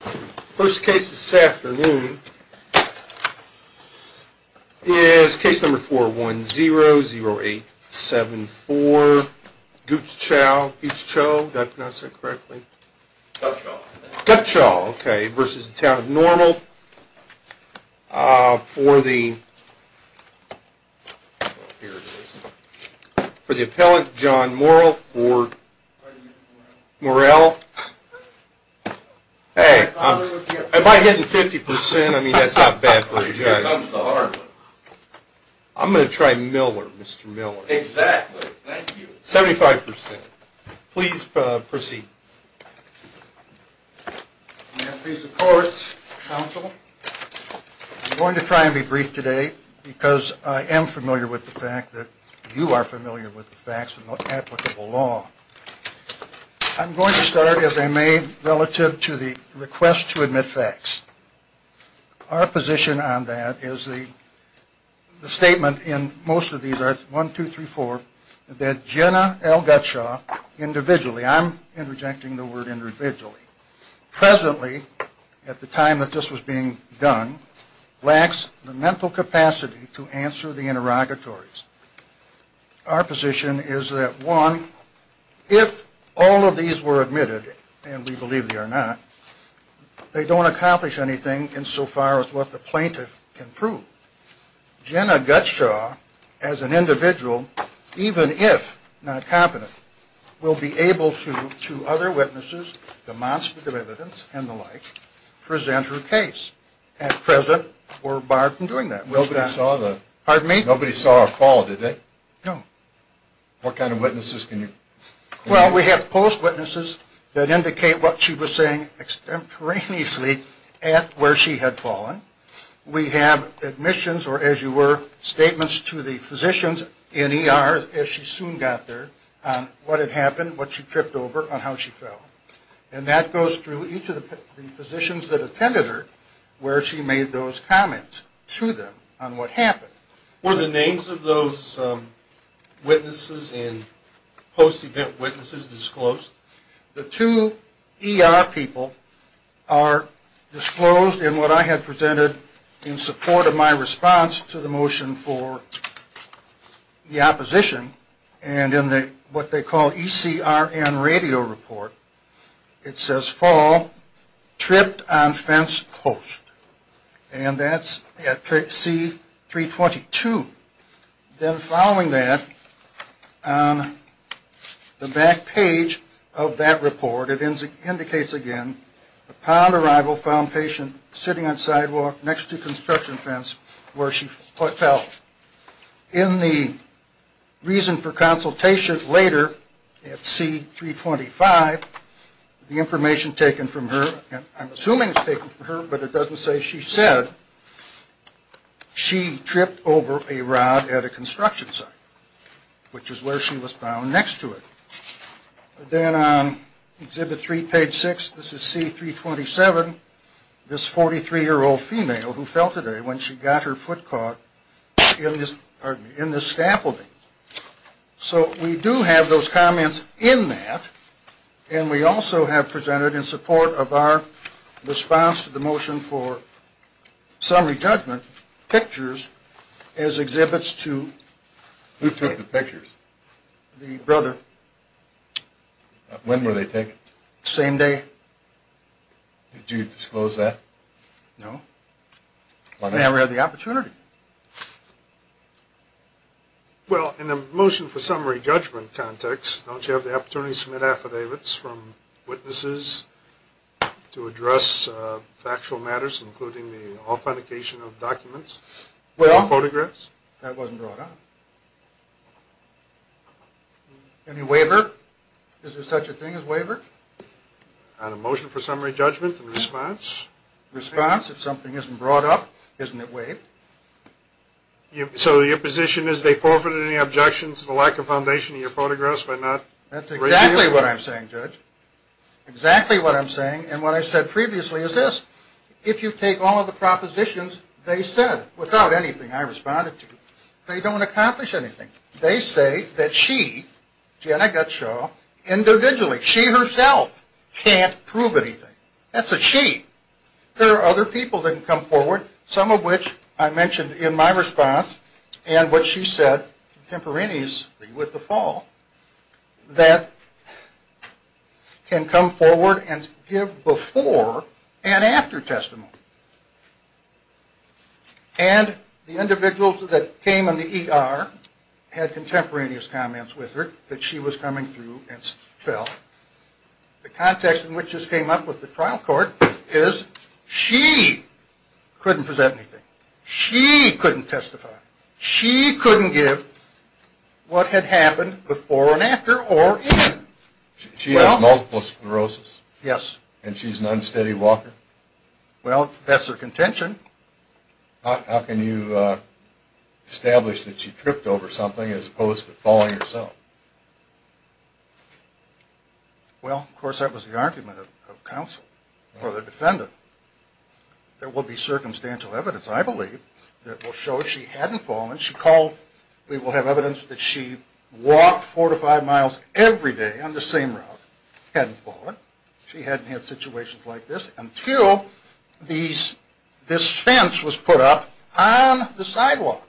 First case this afternoon is case number 410-0874 Guttschow v. Town of Normal For the for the appellant John Morrill for Morrell. Hey, if I'm hitting 50% I mean that's not bad for a judge. I'm going to try Miller, Mr. Miller. Exactly, thank you. 75%. Please proceed. I'm going to try and be brief today because I am familiar with the fact that you are familiar with the facts of applicable law. I'm going to start as I may relative to the request to admit facts. Our position on that is the statement in most of these, 1, 2, 3, 4, that Jenna L. Guttschow individually, I'm interjecting the word individually, presently at the time that this was being done lacks the mental capacity to answer the interrogatories. Our position is that, 1, if all of these were admitted, and we believe they are not, they don't accomplish anything insofar as what the plaintiff can prove. Jenna Guttschow as an individual, even if not competent, will be able to, to other witnesses, demonstrate the evidence and the like, present her case. At present, we're barred from doing that. Nobody saw the... Pardon me? Nobody saw her fall, did they? No. What kind of witnesses can you... Well, we have post-witnesses that indicate what she was saying extemporaneously at where she had fallen. We have admissions, or as you were, statements to the physicians in ER as she soon got there on what had happened, what she tripped over, on how she fell. And that goes through each of the physicians that attended her where she made those comments to them on what happened. Were the names of those witnesses and post-event witnesses disclosed? The two ER people are disclosed in what I had presented in support of my response to the motion for the opposition, and in what they call ECRN radio report, it says, tripped on fence post. And that's at C322. Then following that, on the back page of that report, it indicates again, upon arrival, found patient sitting on sidewalk next to construction fence where she fell. In the reason for consultation later at C325, the information taken from her, and I'm assuming it's taken from her, but it doesn't say she said, she tripped over a rod at a construction site, which is where she was found next to it. Then on exhibit three, page six, this is C327, this 43-year-old female who fell today when she got her foot caught in this scaffolding. So we do have those comments in that, and we also have presented in support of our response to the motion for summary judgment, pictures as exhibits to Who took the pictures? The brother. When were they taken? Same day. Did you disclose that? No. I never had the opportunity. Well, in the motion for summary judgment context, don't you have the opportunity to submit affidavits from witnesses to address factual matters, including the authentication of documents and photographs? That wasn't brought up. Any waiver? Is there such a thing as waiver? On a motion for summary judgment and response? Response. If something isn't brought up, isn't it waived? So your position is they forfeited any objections to the lack of foundation in your photographs by not raising it? That's exactly what I'm saying, Judge. Exactly what I'm saying, and what I said previously is this. If you take all of the propositions they said without anything I responded to, they don't accomplish anything. They say that she, Jenna Gutshaw, individually, she herself can't prove anything. That's a she. There are other people that can come forward, some of which I mentioned in my response and what she said contemporaneously with the fall, that can come forward and give before and after testimony. And the individuals that came in the ER had contemporaneous comments with her that she was coming through and fell. The context in which this came up with the trial court is she couldn't present anything. She couldn't testify. She couldn't give what had happened before and after or in. She has multiple sclerosis? Yes. And she's an unsteady walker? Well, that's her contention. How can you establish that she tripped over something as opposed to falling herself? Well, of course, that was the argument of counsel or the defendant. There will be circumstantial evidence, I believe, that will show she hadn't fallen. She called. We will have evidence that she walked four to five miles every day on the same route. Hadn't fallen. She hadn't had situations like this until this fence was put up on the sidewalk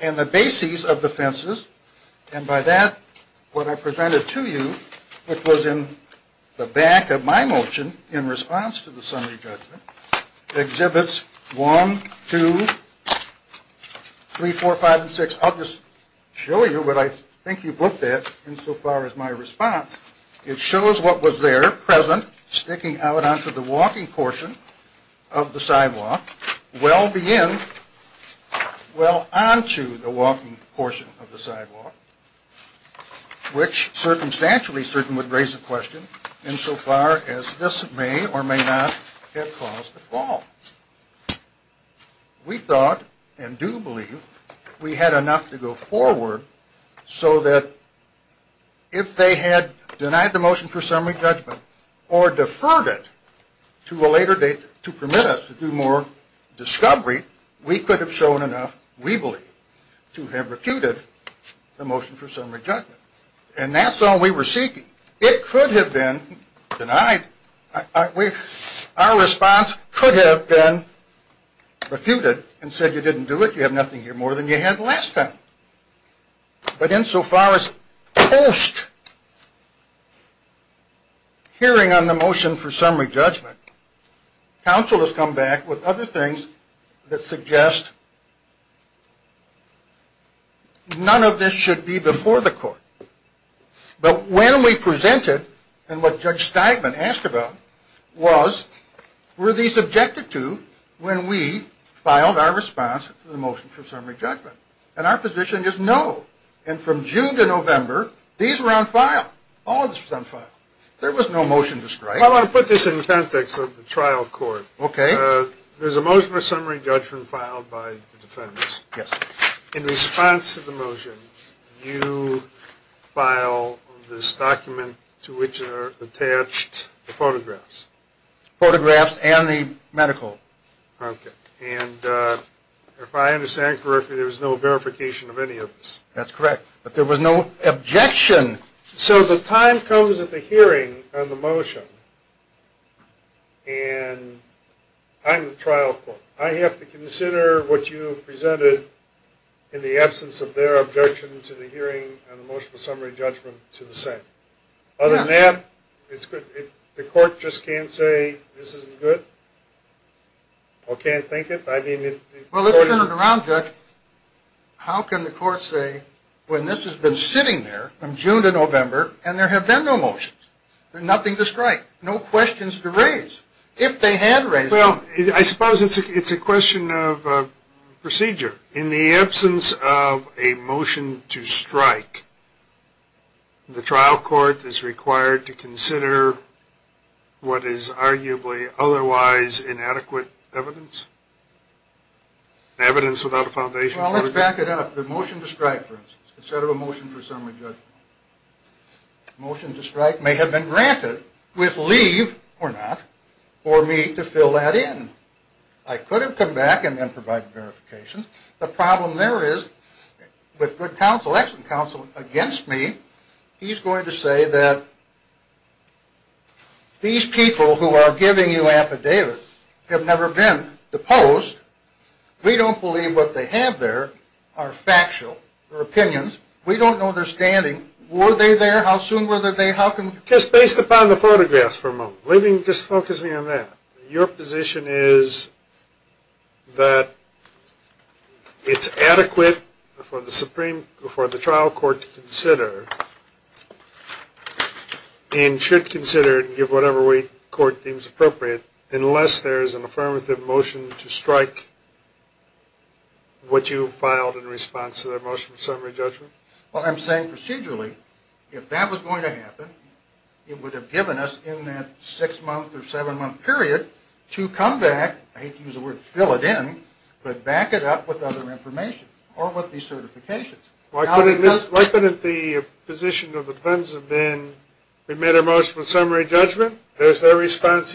and the bases of the fences. And by that, what I presented to you, which was in the back of my motion in response to the summary judgment, exhibits 1, 2, 3, 4, 5, and 6. I'll just show you what I think you've looked at insofar as my response. It shows what was there, present, sticking out onto the walking portion of the sidewalk, well beyond, well onto the walking portion of the sidewalk, which circumstantially certain would raise the question, insofar as this may or may not have caused the fall. We thought, and do believe, we had enough to go forward so that if they had denied the motion for summary judgment or deferred it to a later date to permit us to do more discovery, we could have shown enough, we believe, to have refuted the motion for summary judgment. And that's all we were seeking. It could have been denied. Our response could have been refuted and said you didn't do it, you have nothing here more than you had the last time. But insofar as post-hearing on the motion for summary judgment, counsel has come back with other things that suggest none of this should be before the court. But when we presented and what Judge Steigman asked about was, were these objected to when we filed our response to the motion for summary judgment? And our position is no. And from June to November, these were on file. All of this was on file. There was no motion to strike. I want to put this in context of the trial court. Okay. There's a motion for summary judgment filed by the defense. Yes. In response to the motion, you file this document to which are attached the photographs. Photographs and the medical. Okay. And if I understand correctly, there was no verification of any of this. That's correct. But there was no objection. So the time comes at the hearing on the motion, and I'm the trial court. I have to consider what you presented in the absence of their objection to the hearing on the motion for summary judgment to the same. Other than that, it's good. The court just can't say this isn't good? Or can't think it? Well, let's turn it around, Chuck. How can the court say when this has been sitting there from June to November and there have been no motions, there's nothing to strike, no questions to raise? If they had raised them. Well, I suppose it's a question of procedure. In the absence of a motion to strike, the trial court is required to consider what is arguably otherwise inadequate evidence? Evidence without a foundation. Well, let's back it up. The motion to strike, for instance, instead of a motion for summary judgment. Motion to strike may have been granted with leave, or not, for me to fill that in. I could have come back and then provided verification. The problem there is with good counsel, excellent counsel, against me, he's going to say that these people who are giving you affidavits have never been deposed. We don't believe what they have there are factual. They're opinions. We don't know their standing. Were they there? How soon were they there? How come? Just based upon the photographs for a moment. Just focusing on that. Your position is that it's adequate for the trial court to consider, and should consider and give whatever way the court deems appropriate, unless there is an affirmative motion to strike what you filed in response to their motion for summary judgment? Well, I'm saying procedurally, if that was going to happen, it would have given us in that six-month or seven-month period to come back, I hate to use the word fill it in, but back it up with other information or with these certifications. Why couldn't the position of the defense have been we made our motion for summary judgment? There's their response.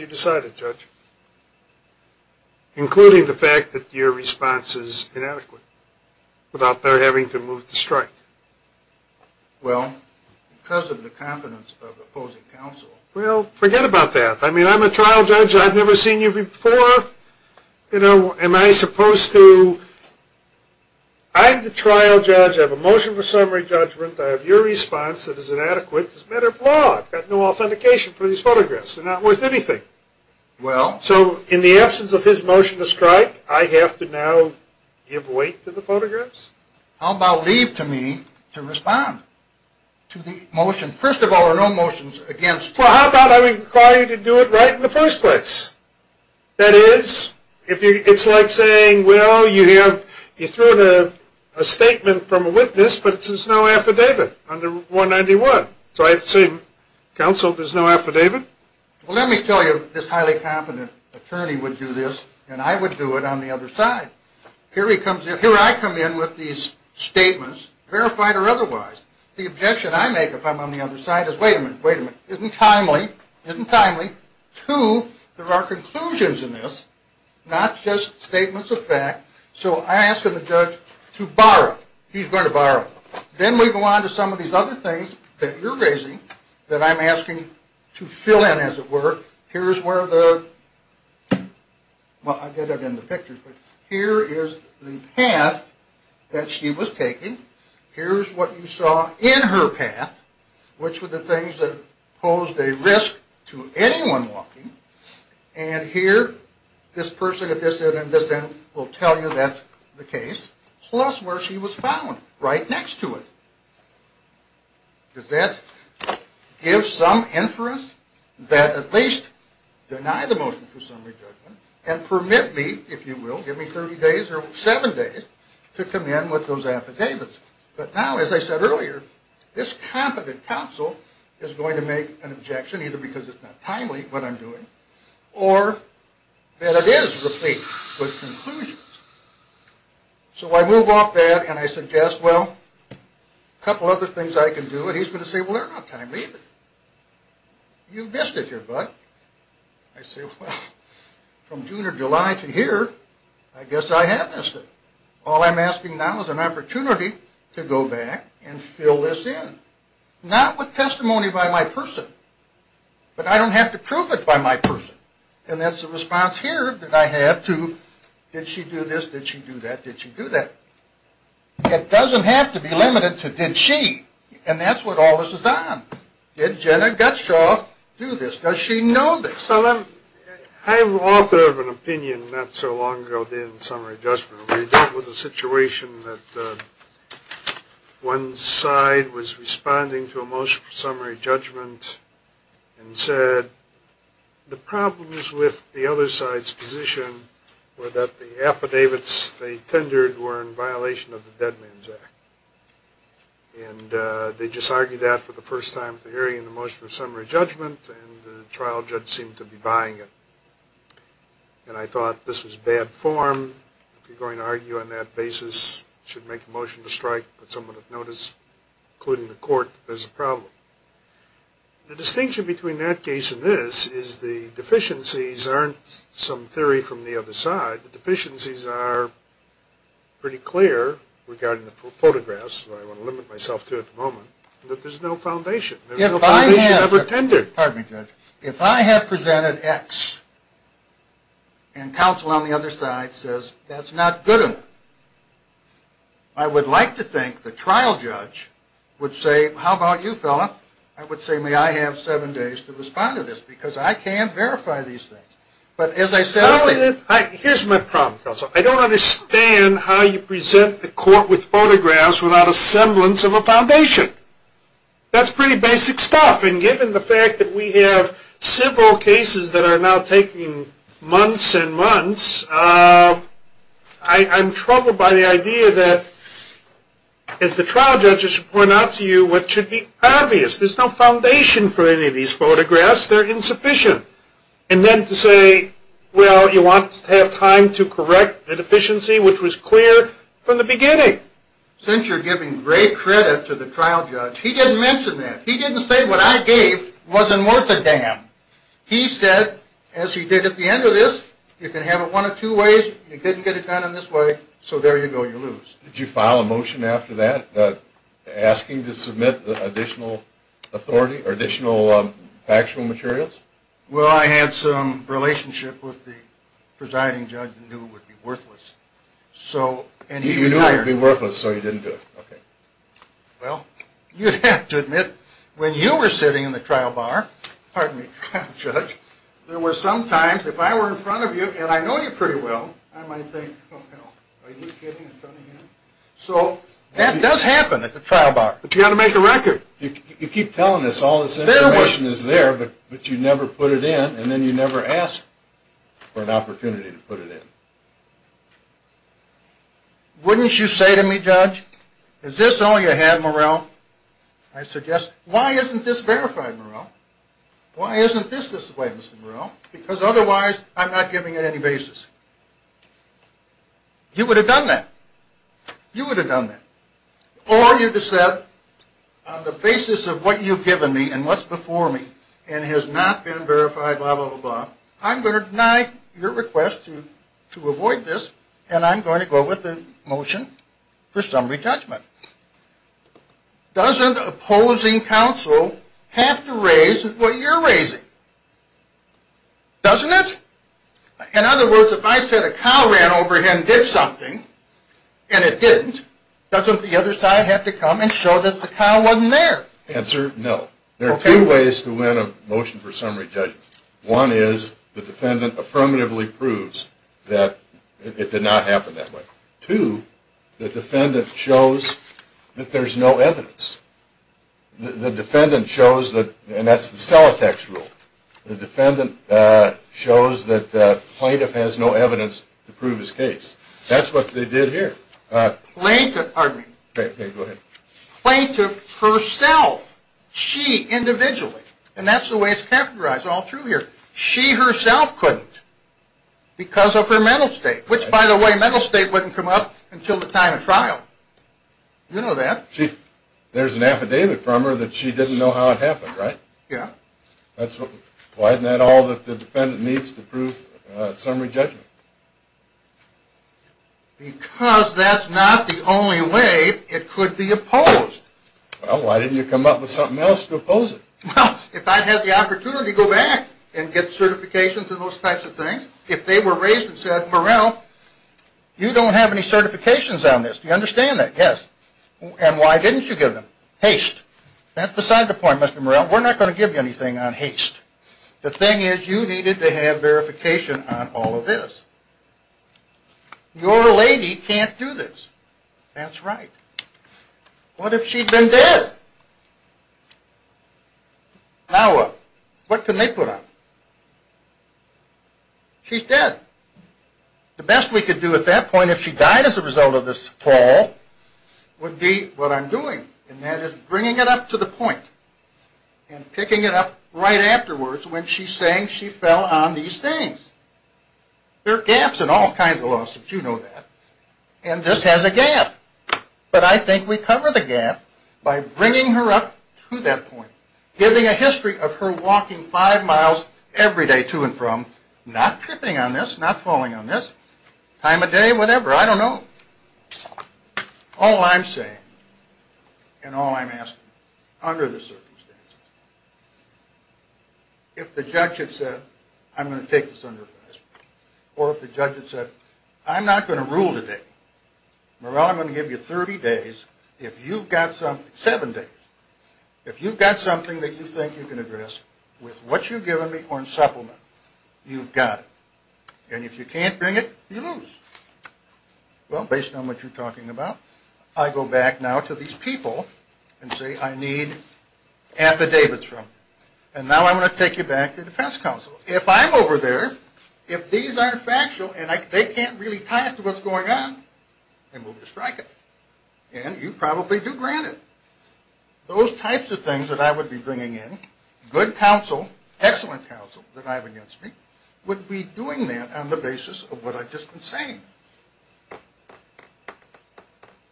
Including the fact that your response is inadequate without their having to move the strike. Well, because of the confidence of opposing counsel. Well, forget about that. I mean, I'm a trial judge. I've never seen you before. You know, am I supposed to? I'm the trial judge. I have a motion for summary judgment. I have your response that is inadequate. It's a matter of law. I've got no authentication for these photographs. They're not worth anything. Well. So in the absence of his motion to strike, I have to now give weight to the photographs? How about leave to me to respond to the motion? First of all, there are no motions against. Well, how about I require you to do it right in the first place? That is, it's like saying, well, you threw in a statement from a witness, but there's no affidavit under 191. So I have to say, counsel, there's no affidavit? Well, let me tell you, this highly competent attorney would do this, and I would do it on the other side. Here I come in with these statements, verified or otherwise. The objection I make if I'm on the other side is, wait a minute, wait a minute, isn't timely, isn't timely. Two, there are conclusions in this, not just statements of fact. So I ask of the judge to borrow. He's going to borrow. Then we go on to some of these other things that you're raising that I'm asking to fill in, as it were. Here's where the, well, I did it in the pictures, but here is the path that she was taking. Here's what you saw in her path, which were the things that posed a risk to anyone walking. And here, this person at this end and this end will tell you that's the case, plus where she was found, right next to it. Does that give some inference that at least deny the motion for summary judgment and permit me, if you will, give me 30 days or seven days to come in with those affidavits? But now, as I said earlier, this competent counsel is going to make an objection, either because it's not timely, what I'm doing, or that it is replete with conclusions. So I move off that and I suggest, well, a couple other things I can do. And he's going to say, well, they're not timely either. You missed it here, bud. I say, well, from June or July to here, I guess I have missed it. All I'm asking now is an opportunity to go back and fill this in. Not with testimony by my person, but I don't have to prove it by my person. And that's the response here that I have to did she do this, did she do that, did she do that. It doesn't have to be limited to did she, and that's what all this is on. Did Jenna Gutshaw do this? Does she know this? I'm an author of an opinion not so long ago in summary judgment. We dealt with a situation that one side was responding to a motion for summary judgment and said the problems with the other side's position were that the affidavits they tendered were in violation of the Dead Man's Act. And they just argued that for the first time to hearing the motion for summary judgment, and the trial judge seemed to be buying it. And I thought this was bad form. If you're going to argue on that basis, you should make a motion to strike, but someone would notice, including the court, that there's a problem. The distinction between that case and this is the deficiencies aren't some theory from the other side. The deficiencies are pretty clear regarding the photographs, which I want to limit myself to at the moment, that there's no foundation. There's no foundation ever tendered. Pardon me, Judge. If I had presented X and counsel on the other side says that's not good enough, I would like to think the trial judge would say, how about you, fella? I would say, may I have seven days to respond to this because I can't verify these things. But as I said earlier. Here's my problem, Counsel. I don't understand how you present the court with photographs without a semblance of a foundation. That's pretty basic stuff. And given the fact that we have several cases that are now taking months and months, I'm troubled by the idea that, as the trial judges point out to you, what should be obvious. There's no foundation for any of these photographs. They're insufficient. And then to say, well, you want to have time to correct the deficiency, which was clear from the beginning. Since you're giving great credit to the trial judge, he didn't mention that. He didn't say what I gave wasn't worth a damn. He said, as he did at the end of this, you can have it one of two ways. You didn't get it done in this way, so there you go, you lose. Did you file a motion after that asking to submit additional factual materials? Well, I had some relationship with the presiding judge and knew it would be worthless. You knew it would be worthless, so you didn't do it. Well, you'd have to admit, when you were sitting in the trial bar, pardon me, trial judge, there were some times, if I were in front of you and I know you pretty well, I might think, oh, hell, are you kidding? So that does happen at the trial bar. But you've got to make a record. You keep telling us all this information is there, but you never put it in. And then you never ask for an opportunity to put it in. Wouldn't you say to me, judge, is this all you have, Morell? I suggest, why isn't this verified, Morell? Why isn't this this way, Mr. Morell? Because otherwise I'm not giving it any basis. You would have done that. You would have done that. Or you just said, on the basis of what you've given me and what's before me and has not been verified, blah, blah, blah, blah, I'm going to deny your request to avoid this, and I'm going to go with the motion for summary judgment. Doesn't opposing counsel have to raise what you're raising? Doesn't it? In other words, if I said a cow ran over him and did something, and it didn't, doesn't the other side have to come and show that the cow wasn't there? Answer, no. There are two ways to win a motion for summary judgment. One is the defendant affirmatively proves that it did not happen that way. Two, the defendant shows that there's no evidence. The defendant shows that, and that's the Celotex rule, the defendant shows that the plaintiff has no evidence to prove his case. That's what they did here. Plaintiff, pardon me. Go ahead. Plaintiff herself, she individually, and that's the way it's categorized all through here, she herself couldn't because of her mental state, which, by the way, mental state wouldn't come up until the time of trial. You know that. There's an affidavit from her that she didn't know how it happened, right? Yeah. Why isn't that all that the defendant needs to prove summary judgment? Because that's not the only way it could be opposed. Well, why didn't you come up with something else to oppose it? Well, if I had the opportunity to go back and get certifications and those types of things, if they were raised and said, Morell, you don't have any certifications on this. Do you understand that? Yes. And why didn't you give them? Haste. That's beside the point, Mr. Morell. We're not going to give you anything on haste. The thing is you needed to have verification on all of this. Your lady can't do this. That's right. What if she'd been dead? Now what? What can they put on her? She's dead. The best we could do at that point, if she died as a result of this fall, would be what I'm doing, and that is bringing it up to the point and picking it up right afterwards when she's saying she fell on these things. There are gaps in all kinds of lawsuits. You know that. And this has a gap. But I think we cover the gap by bringing her up to that point, giving a history of her walking five miles every day to and from, not tripping on this, not falling on this, time of day, whatever. I don't know. All I'm saying and all I'm asking, under the circumstances, if the judge had said, I'm going to take this under advice, or if the judge had said, I'm not going to rule today, Merrill, I'm going to give you 30 days. If you've got something, seven days. If you've got something that you think you can address with what you've given me or in supplement, you've got it. And if you can't bring it, you lose. Well, based on what you're talking about, I go back now to these people and say, I need affidavits from them. And now I'm going to take you back to the defense counsel. If I'm over there, if these aren't factual and they can't really tie it to what's going on, then we'll strike it. And you probably do grant it. Those types of things that I would be bringing in, good counsel, excellent counsel that I have against me, would be doing that on the basis of what I've just been saying.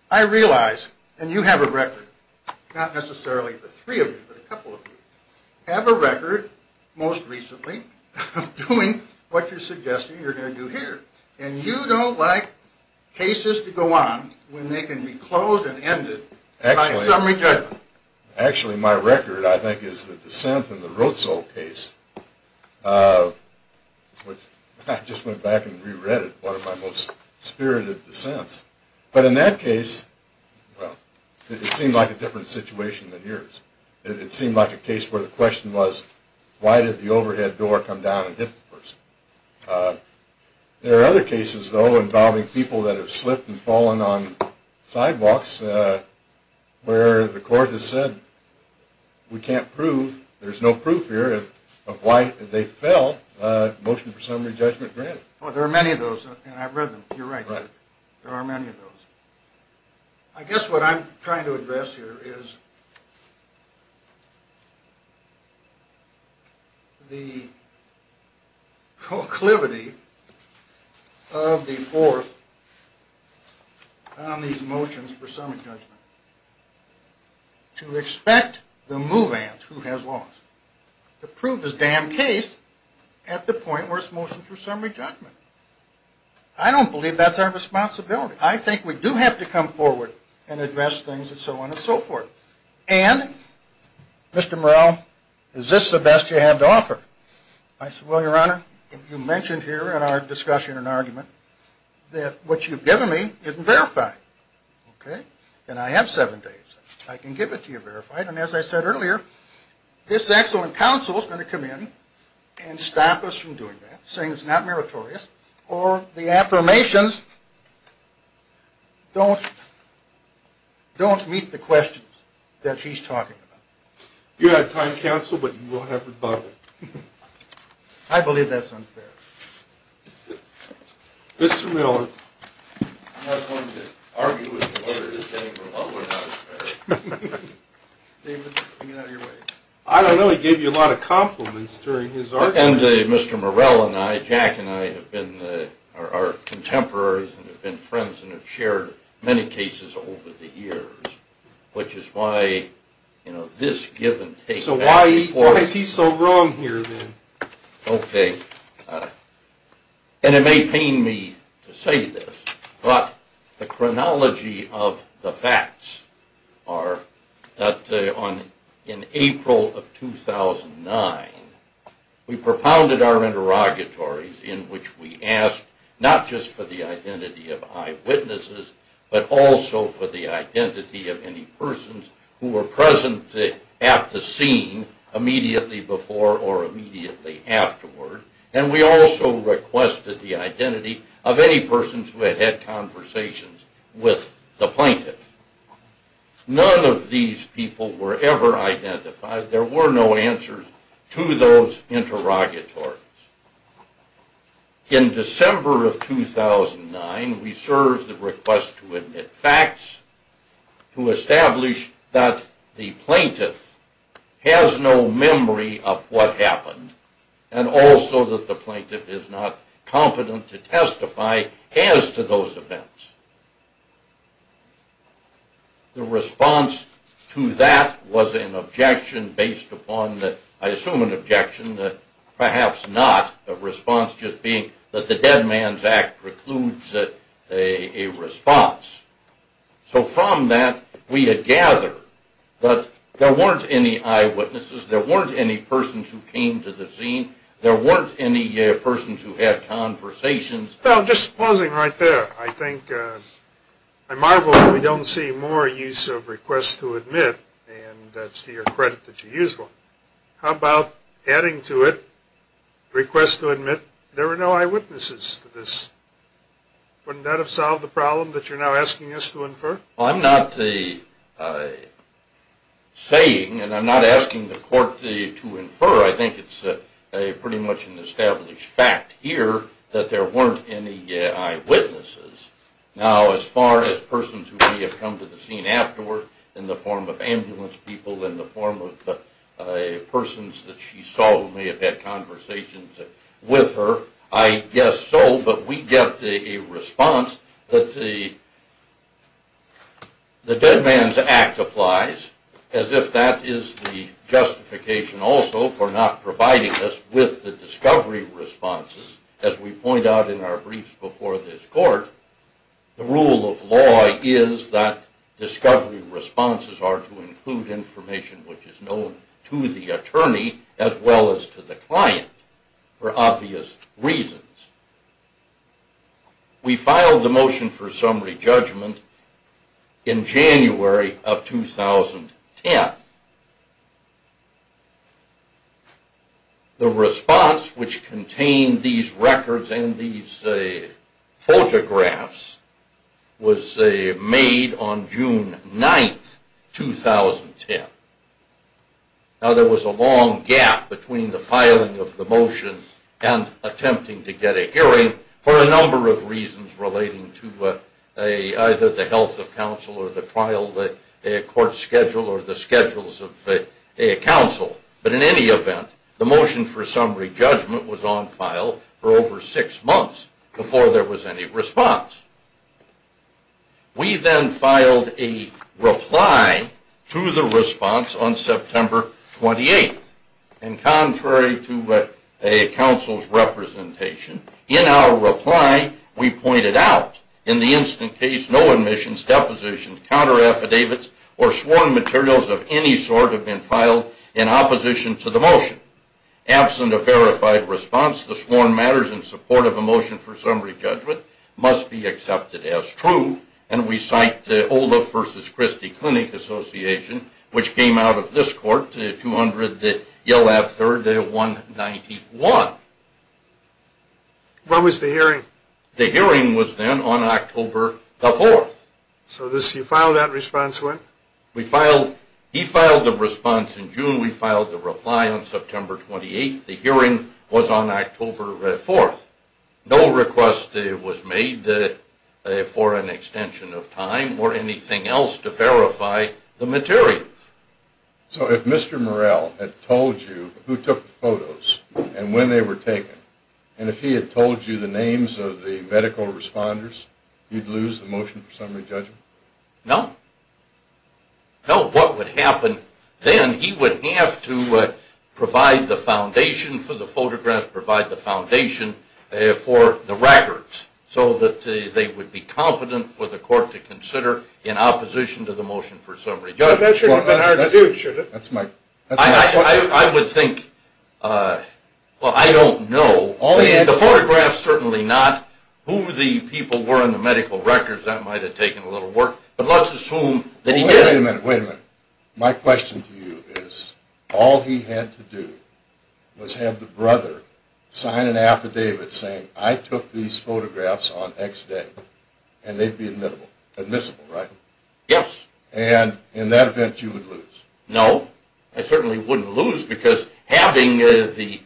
I realize, and you have a record, not necessarily the three of you, but a couple of you, have a record, most recently, of doing what you're suggesting you're going to do here. And you don't like cases to go on when they can be closed and ended by a summary judgment. Actually, my record, I think, is the dissent in the Roetzel case. I just went back and reread it, one of my most spirited dissents. But in that case, it seemed like a different situation than yours. It seemed like a case where the question was, why did the overhead door come down and hit the person? There are other cases, though, involving people that have slipped and fallen on sidewalks where the court has said, we can't prove, there's no proof here of why they fell, motion for summary judgment granted. Well, there are many of those, and I've read them. You're right. I guess what I'm trying to address here is the proclivity of the court on these motions for summary judgment to expect the move-ant who has lost to prove his damn case at the point where it's motion for summary judgment. I don't believe that's our responsibility. I think we do have to come forward and address things and so on and so forth. And, Mr. Morrell, is this the best you have to offer? I said, well, Your Honor, you mentioned here in our discussion and argument that what you've given me isn't verified. And I have seven days. I can give it to you verified, and as I said earlier, this excellent counsel is going to come in and stop us from doing that, saying it's not meritorious, or the affirmations don't meet the questions that he's talking about. You have time, counsel, but you will have rebuttal. I believe that's unfair. Mr. Miller. I'm not going to argue with you whether this came from love or not. David, get out of your way. I don't know. He gave you a lot of compliments during his argument. And Mr. Morrell and I, Jack and I, are contemporaries and have been friends and have shared many cases over the years, which is why this give and take. So why is he so wrong here, then? Okay. And it may pain me to say this, but the chronology of the facts are that in April of 2009, we propounded our interrogatories in which we asked not just for the identity of eyewitnesses, but also for the identity of any persons who were present at the scene immediately before or immediately afterward. And we also requested the identity of any persons who had had conversations with the plaintiffs. None of these people were ever identified. There were no answers to those interrogatories. In December of 2009, we served the request to admit facts to establish that the plaintiff has no memory of what happened and also that the plaintiff is not competent to testify as to those events. The response to that was an objection based upon the, I assume an objection, perhaps not, the response just being that the Dead Man's Act precludes a response. So from that, we had gathered that there weren't any eyewitnesses, there weren't any persons who came to the scene, there weren't any persons who had conversations. Well, just pausing right there, I marvel that we don't see more use of request to admit, and that's to your credit that you use one. How about adding to it request to admit there were no eyewitnesses to this? Wouldn't that have solved the problem that you're now asking us to infer? I'm not saying, and I'm not asking the court to infer, I think it's pretty much an established fact here that there weren't any eyewitnesses. Now, as far as persons who may have come to the scene afterward in the form of ambulance people, in the form of persons that she saw who may have had conversations with her, I guess so, but we get a response that the Dead Man's Act applies, as if that is the justification also for not providing us with the discovery responses. As we point out in our briefs before this court, the rule of law is that discovery responses are to include information which is known to the attorney as well as to the client for obvious reasons. We filed the motion for summary judgment in January of 2010. The response which contained these records and these photographs was made on June 9, 2010. Now, there was a long gap between the filing of the motion and attempting to get a hearing for a number of reasons relating to either the health of counsel or the trial court schedule or the schedules of counsel. But in any event, the motion for summary judgment was on file for over six months before there was any response. We then filed a reply to the response on September 28. And contrary to a counsel's representation, in our reply we pointed out in the instant case no admissions, depositions, counter-affidavits, or sworn materials of any sort have been filed in opposition to the motion. Absent a verified response, the sworn matters in support of a motion for summary judgment must be accepted as true, and we cite Ola versus Christie Clinic Association, which came out of this court, 200 Yelab 3rd, 191. When was the hearing? The hearing was then on October 4. So you filed that response when? He filed the response in June. We filed the reply on September 28. The hearing was on October 4. No request was made for an extension of time or anything else to verify the materials. So if Mr. Morell had told you who took the photos and when they were taken, and if he had told you the names of the medical responders, you'd lose the motion for summary judgment? No. No, what would happen then, he would have to provide the foundation for the photographs, provide the foundation for the records, so that they would be competent for the court to consider in opposition to the motion for summary judgment. That shouldn't have been hard to do, should it? I would think, well, I don't know. The photographs, certainly not. Who the people were in the medical records, that might have taken a little work. Wait a minute, wait a minute. My question to you is, all he had to do was have the brother sign an affidavit saying, I took these photographs on X day, and they'd be admissible, right? Yes. And in that event, you would lose? No, I certainly wouldn't lose, because having the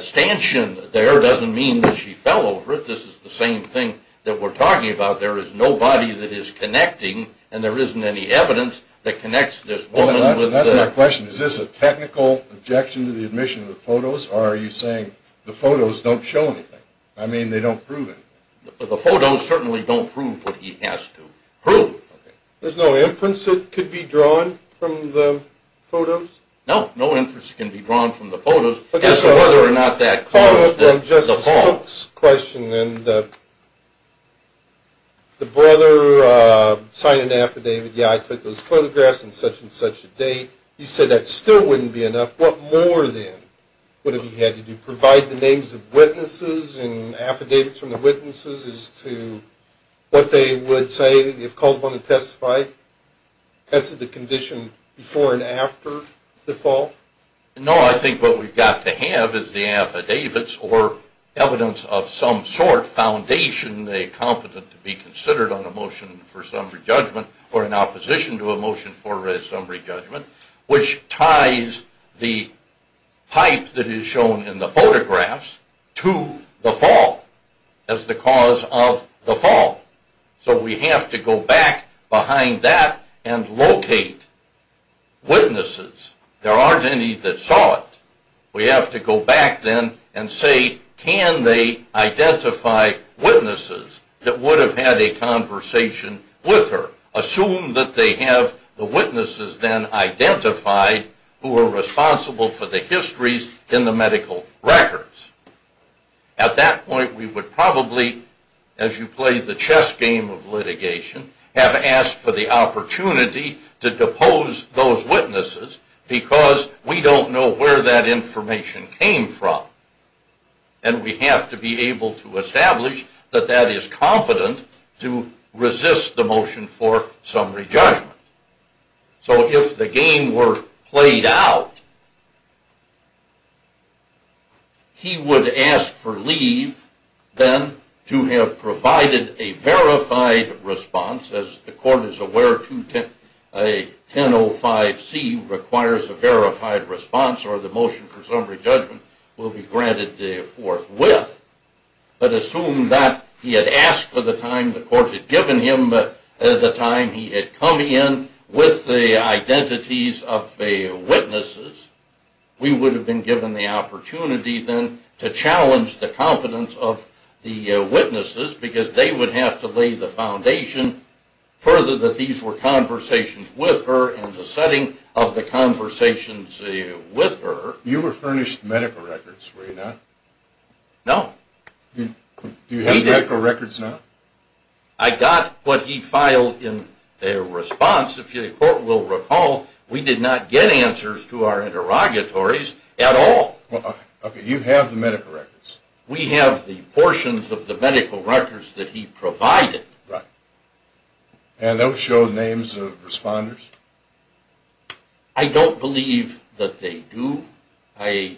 stanchion there doesn't mean that she fell over. This is the same thing that we're talking about. There is nobody that is connecting, and there isn't any evidence that connects this woman. That's my question. Is this a technical objection to the admission of the photos, or are you saying the photos don't show anything? I mean, they don't prove anything. The photos certainly don't prove what he has to prove. There's no inference that could be drawn from the photos? No, no inference can be drawn from the photos. Just to follow up on Justice Cook's question, the brother signed an affidavit, yeah, I took those photographs on such and such a day. You said that still wouldn't be enough. What more, then, would have he had to do, provide the names of witnesses and affidavits from the witnesses as to what they would say if called upon to testify? Tested the condition before and after the fall? No, I think what we've got to have is the affidavits or evidence of some sort, foundation they're competent to be considered on a motion for summary judgment or in opposition to a motion for a summary judgment, which ties the pipe that is shown in the photographs to the fall as the cause of the fall. So we have to go back behind that and locate witnesses. There aren't any that saw it. We have to go back then and say, can they identify witnesses that would have had a conversation with her? Assume that they have the witnesses then identified who are responsible for the histories in the medical records. At that point, we would probably, as you play the chess game of litigation, have asked for the opportunity to depose those witnesses because we don't know where that information came from. And we have to be able to establish that that is competent to resist the motion for summary judgment. So if the game were played out, he would ask for leave then to have provided a verified response. As the court is aware, a 1005C requires a verified response or the motion for summary judgment will be granted forthwith. But assume that he had asked for the time the court had given him at the time he had come in with the identities of witnesses, we would have been given the opportunity then to challenge the competence of the witnesses because they would have to lay the foundation further that these were conversations with her and the setting of the conversations with her. You were furnished medical records, were you not? No. Do you have medical records now? I got what he filed in their response. If the court will recall, we did not get answers to our interrogatories at all. Okay, you have the medical records. We have the portions of the medical records that he provided. Right. And those show names of responders? I don't believe that they do. I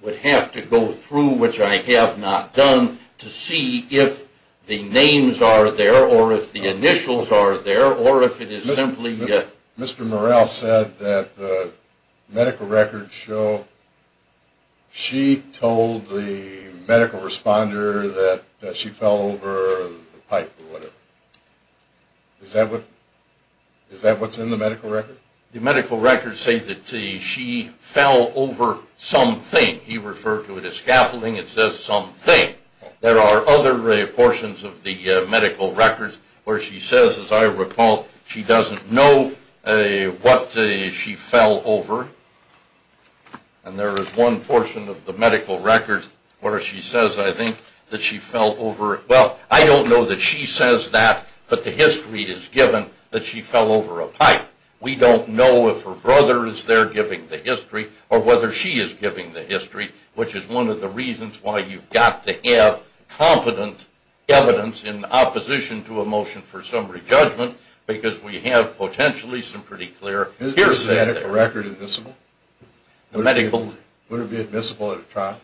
would have to go through, which I have not done, to see if the names are there or if the initials are there or if it is simply that. Mr. Morrell said that the medical records show she told the medical responder that she fell over the pipe or whatever. Is that what's in the medical record? The medical records say that she fell over something. He referred to it as scaffolding. It says something. There are other portions of the medical records where she says, as I recall, she doesn't know what she fell over. And there is one portion of the medical records where she says, I think, that she fell over it. Well, I don't know that she says that, but the history is given that she fell over a pipe. We don't know if her brother is there giving the history or whether she is giving the history, which is one of the reasons why you've got to have competent evidence in opposition to a motion for summary judgment because we have potentially some pretty clear hearsay there. Is the medical record admissible? Would it be admissible at a trial?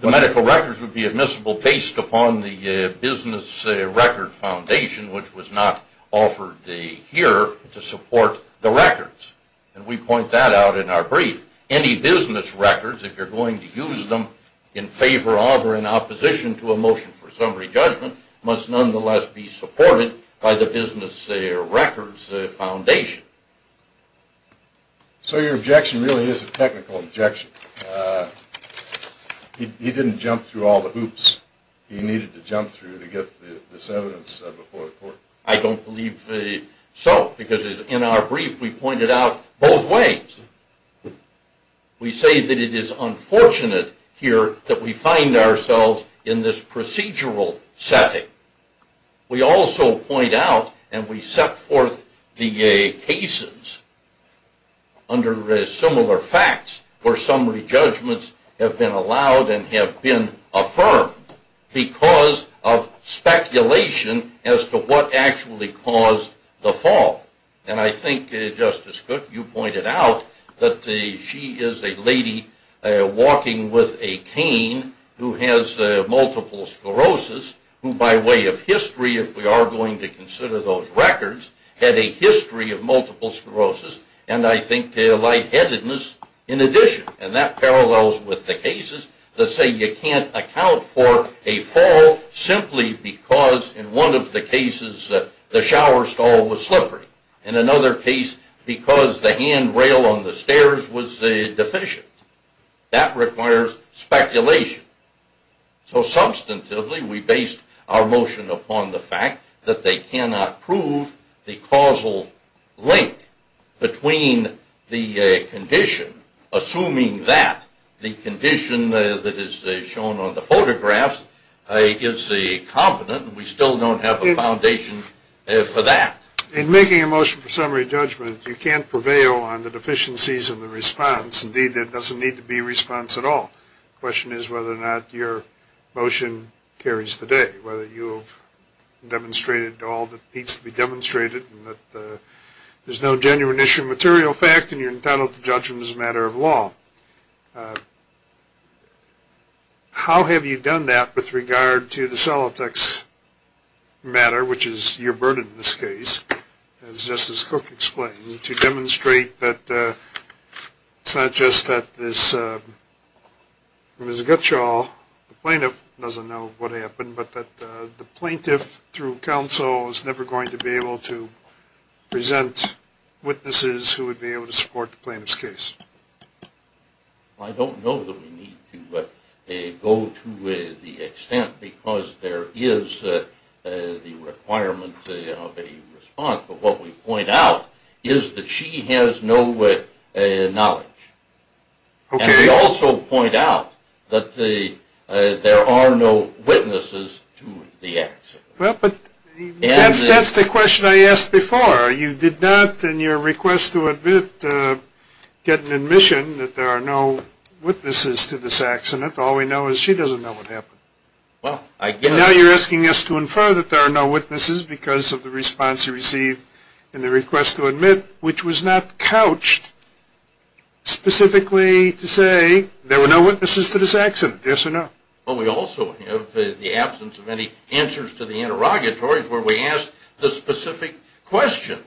The medical records would be admissible based upon the business record foundation, which was not offered here to support the records. And we point that out in our brief. Any business records, if you're going to use them in favor of or in opposition to a motion for summary judgment, must nonetheless be supported by the business records foundation. So your objection really is a technical objection. He didn't jump through all the hoops he needed to jump through to get this evidence before the court. I don't believe so because in our brief we pointed out both ways. We say that it is unfortunate here that we find ourselves in this procedural setting. We also point out and we set forth the cases under similar facts where summary judgments have been allowed and have been affirmed because of speculation as to what actually caused the fall. And I think, Justice Cook, you pointed out that she is a lady walking with a cane who has multiple sclerosis, who by way of history, if we are going to consider those records, had a history of multiple sclerosis and I think lightheadedness in addition. And that parallels with the cases that say you can't account for a fall simply because in one of the cases the shower stall was slippery, in another case because the handrail on the stairs was deficient. That requires speculation. So substantively we based our motion upon the fact that they cannot prove the causal link between the condition, assuming that the condition that is shown on the photographs is the competent and we still don't have a foundation for that. In making a motion for summary judgment, you can't prevail on the deficiencies of the response. Indeed, there doesn't need to be a response at all. The question is whether or not your motion carries the day, whether you've demonstrated all that needs to be demonstrated and that there's no genuine issue of material fact and you're entitled to judgment as a matter of law. How have you done that with regard to the Solitex matter, which is your burden in this case, as Justice Cook explained, to demonstrate that it's not just that Ms. Gutschall, the plaintiff, doesn't know what happened but that the plaintiff through counsel is never going to be able to present witnesses who would be able to support the plaintiff's case? I don't know that we need to go to the extent because there is the requirement of a response, but what we point out is that she has no knowledge. Okay. And we also point out that there are no witnesses to the accident. Well, but that's the question I asked before. You did not in your request to get an admission that there are no witnesses to this accident. All we know is she doesn't know what happened. Well, I guess. Now you're asking us to infer that there are no witnesses because of the response you received in the request to admit, which was not couched specifically to say there were no witnesses to this accident. Yes or no? Well, we also have the absence of any answers to the interrogatories where we ask the specific question.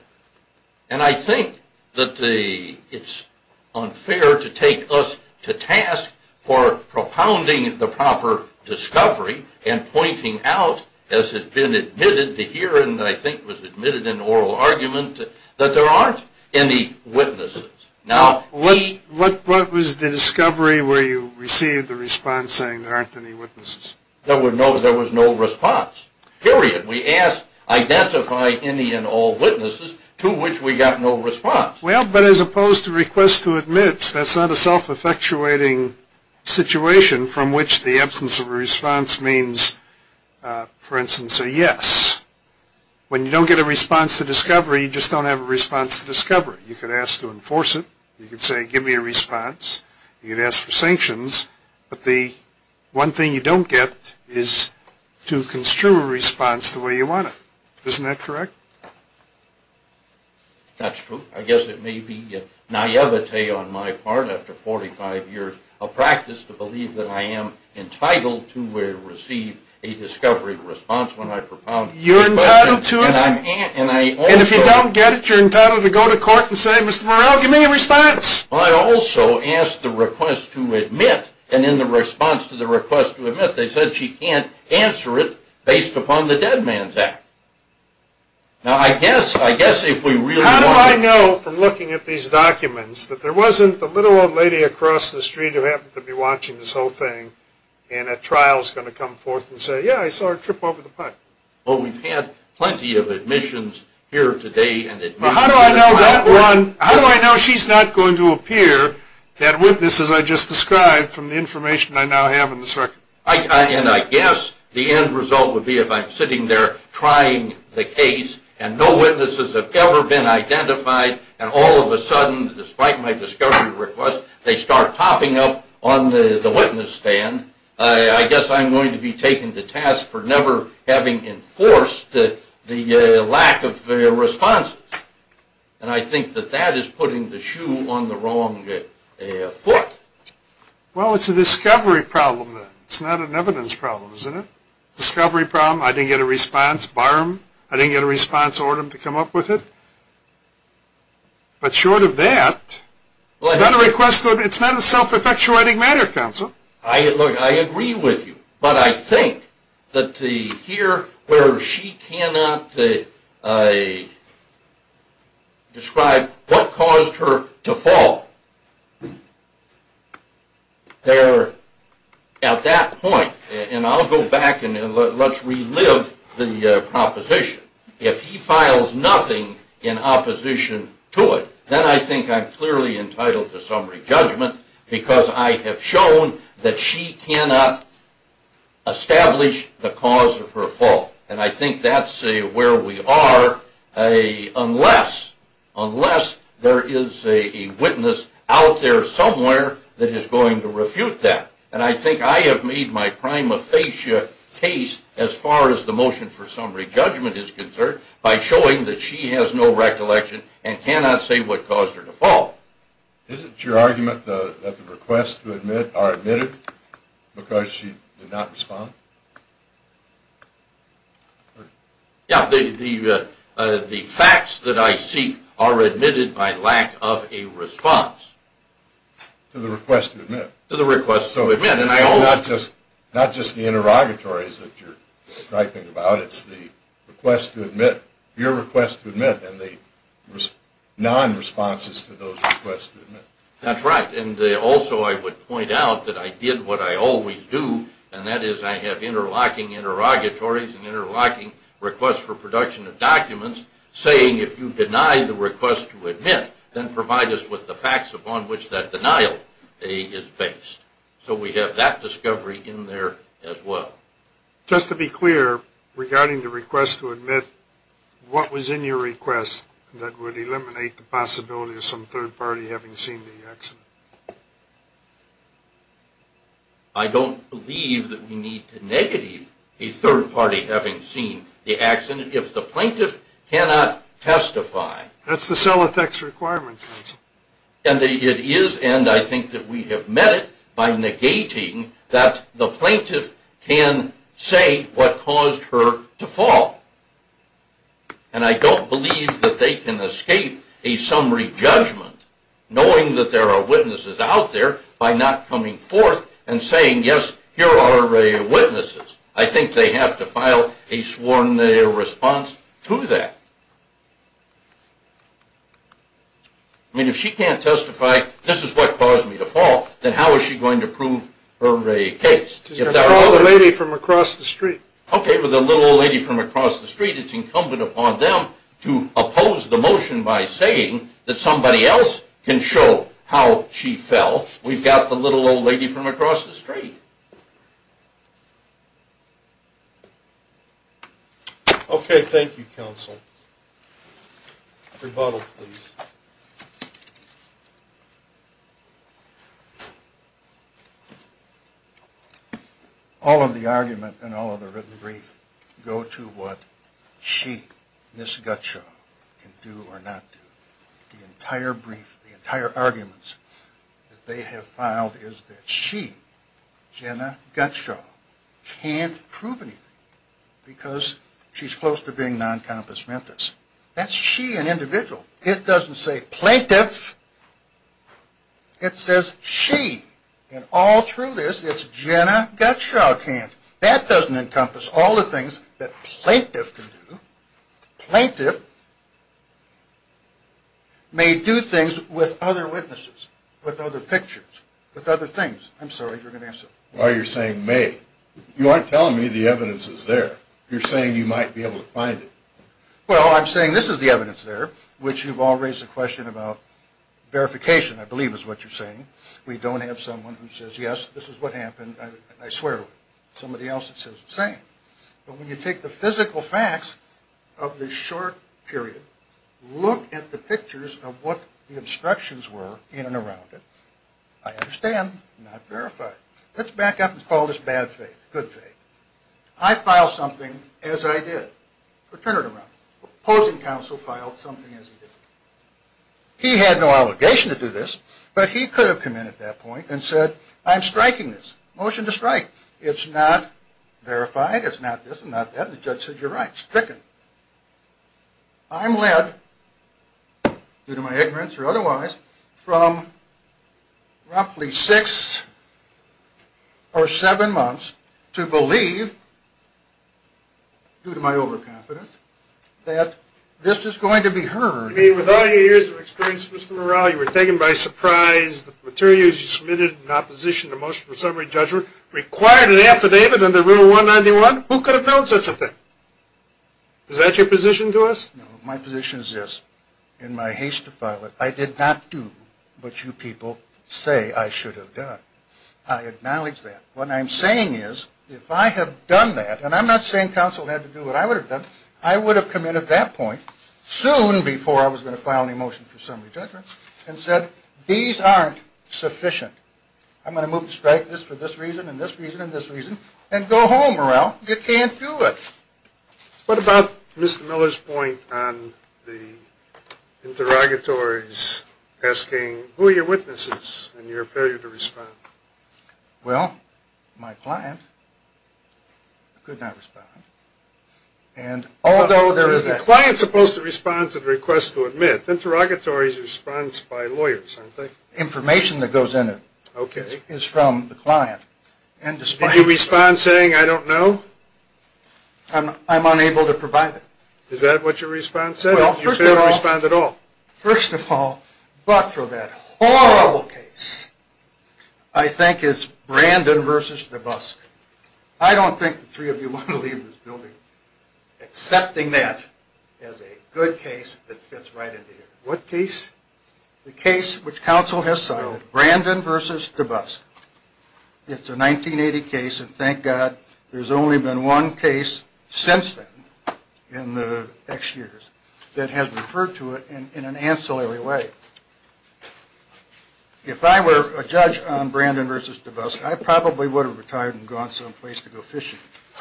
And I think that it's unfair to take us to task for propounding the proper discovery and pointing out, as has been admitted to here and I think was admitted in oral argument, that there aren't any witnesses. What was the discovery where you received the response saying there aren't any witnesses? There was no response. Period. We asked identify any and all witnesses to which we got no response. Well, but as opposed to request to admit, that's not a self-effectuating situation from which the absence of a response means, for instance, a yes. When you don't get a response to discovery, you just don't have a response to discovery. You could ask to enforce it. You could say give me a response. You could ask for sanctions. But the one thing you don't get is to construe a response the way you want it. Isn't that correct? That's true. I guess it may be a naivete on my part, after 45 years of practice, to believe that I am entitled to receive a discovery response when I propound. You're entitled to it? And if you don't get it, you're entitled to go to court and say, Mr. Morrell, give me a response. I also asked the request to admit, and in the response to the request to admit, they said she can't answer it based upon the Dead Man's Act. Now, I guess if we really want to... How do I know, from looking at these documents, that there wasn't the little old lady across the street who happened to be watching this whole thing and at trial is going to come forth and say, yeah, I saw her trip over the pipe? Well, we've had plenty of admissions here today. How do I know that one? How do I know she's not going to appear, that witness, as I just described, from the information I now have in this record? And I guess the end result would be if I'm sitting there trying the case and no witnesses have ever been identified, and all of a sudden, despite my discovery request, they start popping up on the witness stand, I guess I'm going to be taken to task for never having enforced the lack of responses. And I think that that is putting the shoe on the wrong foot. Well, it's a discovery problem, then. It's not an evidence problem, is it? Discovery problem, I didn't get a response. Bar them. I didn't get a response. Order them to come up with it. But short of that, it's not a self-effectuating matter, counsel. Look, I agree with you. But I think that to hear where she cannot describe what caused her to fall, at that point, and I'll go back and let's relive the proposition, if he files nothing in opposition to it, then I think I'm clearly entitled to summary judgment because I have shown that she cannot establish the cause of her fall. And I think that's where we are unless there is a witness out there somewhere that is going to refute that. And I think I have made my prima facie case as far as the motion for summary judgment is concerned by showing that she has no recollection and cannot say what caused her to fall. Is it your argument that the requests to admit are admitted because she did not respond? Yeah. The facts that I seek are admitted by lack of a response. To the request to admit? To the request to admit. So it's not just the interrogatories that you're striking about. It's the request to admit, your request to admit, and the non-responses to those requests to admit. That's right. And also I would point out that I did what I always do, and that is I have interlocking interrogatories and interlocking requests for production of documents saying if you deny the request to admit, then provide us with the facts upon which that denial is based. So we have that discovery in there as well. Just to be clear regarding the request to admit, what was in your request that would eliminate the possibility of some third party having seen the accident? I don't believe that we need to negate a third party having seen the accident if the plaintiff cannot testify. That's the CELATEX requirement, counsel. And it is, and I think that we have met it, by negating that the plaintiff can say what caused her to fall. And I don't believe that they can escape a summary judgment knowing that there are witnesses out there by not coming forth and saying, yes, here are witnesses. I think they have to file a sworn response to that. If she can't testify, this is what caused me to fall, then how is she going to prove her case? To call the lady from across the street. Okay, with the little old lady from across the street, it's incumbent upon them to oppose the motion by saying that somebody else can show how she fell. We've got the little old lady from across the street. Okay, thank you, counsel. Rebuttal, please. All of the argument and all of the written brief go to what she, Ms. Gutshaw, can do or not do. The entire brief, the entire arguments that they have filed is that she, Jenna Gutshaw, can't prove anything because she's close to being non-compensamentous. That's she, an individual. It doesn't say plaintiff. It says she. And all through this, it's Jenna Gutshaw can't. That doesn't encompass all the things that plaintiff can do. Plaintiff may do things with other witnesses, with other pictures, with other things. I'm sorry, you're going to answer. Why are you saying may? You aren't telling me the evidence is there. You're saying you might be able to find it. Well, I'm saying this is the evidence there, which you've all raised the question about verification, I believe is what you're saying. We don't have someone who says, yes, this is what happened, and I swear. Somebody else says the same. But when you take the physical facts of this short period, look at the pictures of what the instructions were in and around it, I understand, not verified. Let's back up and call this bad faith, good faith. I filed something as I did. But turn it around. Opposing counsel filed something as he did. He had no allegation to do this, but he could have come in at that point and said, I'm striking this. Motion to strike. It's not verified. It's not this and not that. The judge says you're right. It's stricken. I'm led, due to my ignorance or otherwise, from roughly six or seven months to believe, due to my overconfidence, that this is going to be heard. I mean, with all your years of experience, Mr. Morrell, you were taken by surprise that the materials you submitted in opposition to motion for summary judgment required an affidavit under Rule 191? Who could have known such a thing? Is that your position to us? No. My position is this. In my haste to file it, I did not do what you people say I should have done. I acknowledge that. What I'm saying is, if I have done that, and I'm not saying counsel had to do what I would have done, I would have come in at that point, soon before I was going to file a motion for summary judgment, and said, these aren't sufficient. I'm going to move to strike this for this reason and this reason and this reason and go home, Morrell. You can't do it. What about Mr. Miller's point on the interrogatories asking, who are your witnesses in your failure to respond? Well, my client could not respond. And although there is a... The client is supposed to respond to the request to admit. Interrogatories respond by lawyers, aren't they? Information that goes in is from the client. Did you respond saying, I don't know? I'm unable to provide it. Is that what your response said? You failed to respond at all. First of all, but for that horrible case, I think it's Brandon versus DeBusk. I don't think the three of you want to leave this building, accepting that as a good case that fits right into here. What case? The case which counsel has cited, Brandon versus DeBusk. It's a 1980 case, and thank God there's only been one case since then in the X years that has referred to it in an ancillary way. If I were a judge on Brandon versus DeBusk, I probably would have retired and gone someplace to go fishing.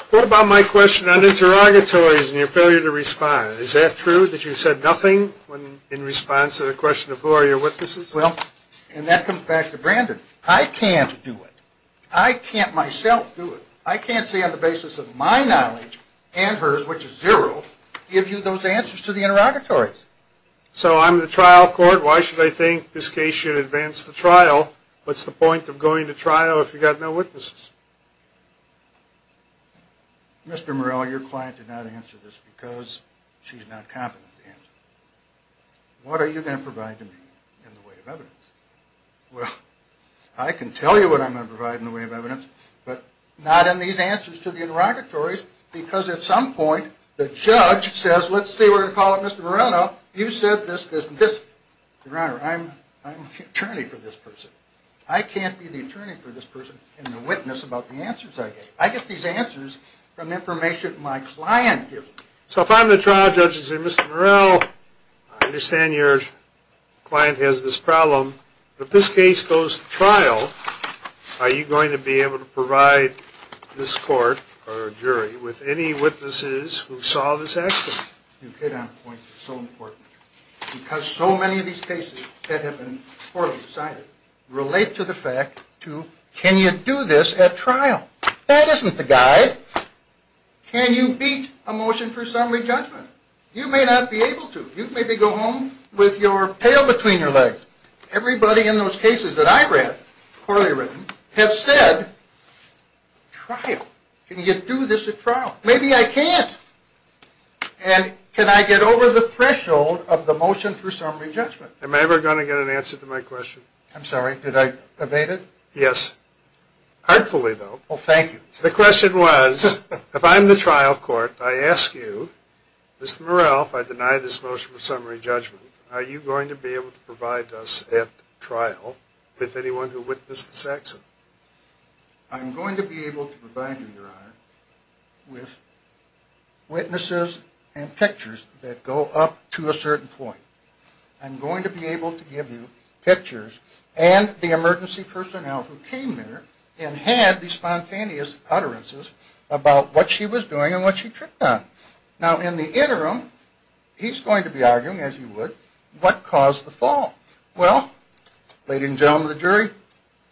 What about my question on interrogatories and your failure to respond? Is that true that you said nothing in response to the question of who are your witnesses? Well, and that comes back to Brandon. I can't do it. I can't myself do it. I can't say on the basis of my knowledge and hers, which is zero, give you those answers to the interrogatories. So I'm the trial court. Why should I think this case should advance the trial? What's the point of going to trial if you've got no witnesses? Mr. Morello, your client did not answer this because she's not competent to answer. What are you going to provide to me in the way of evidence? Well, I can tell you what I'm going to provide in the way of evidence, but not in these answers to the interrogatories because at some point the judge says, let's see, we're going to call up Mr. Morello. You said this, this, and this. Your Honor, I'm the attorney for this person. I can't be the attorney for this person and the witness about the answers I gave. I get these answers from information my client gives me. So if I'm the trial judge and say, Mr. Morello, I understand your client has this problem. If this case goes to trial, are you going to be able to provide this court or jury with any witnesses who saw this accident? You hit on a point that's so important because so many of these cases that have been poorly decided relate to the fact to can you do this at trial? That isn't the guide. Can you beat a motion for summary judgment? You may not be able to. You maybe go home with your tail between your legs. Everybody in those cases that I read, poorly written, have said trial. Can you do this at trial? Maybe I can't. And can I get over the threshold of the motion for summary judgment? Am I ever going to get an answer to my question? I'm sorry, did I evade it? Yes. Heartfully, though. Well, thank you. The question was, if I'm the trial court, I ask you, Mr. Morrell, if I deny this motion for summary judgment, are you going to be able to provide us at trial with anyone who witnessed this accident? I'm going to be able to provide you, Your Honor, with witnesses and pictures that go up to a certain point. I'm going to be able to give you pictures and the emergency personnel who came there and had the spontaneous utterances about what she was doing and what she tripped on. Now, in the interim, he's going to be arguing, as he would, what caused the fall. Well, ladies and gentlemen of the jury,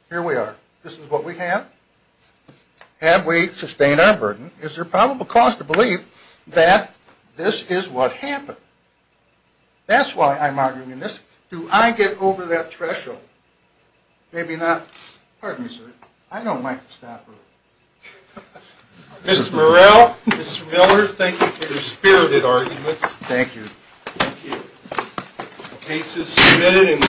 here we are. This is what we have. Have we sustained our burden? Is there probable cause to believe that this is what happened? That's why I'm arguing in this. Do I get over that threshold? Maybe not. Pardon me, sir. I know Mike Stauffer. Mr. Morrell, Mr. Miller, thank you for your spirited arguments. Thank you. Thank you. The case is submitted.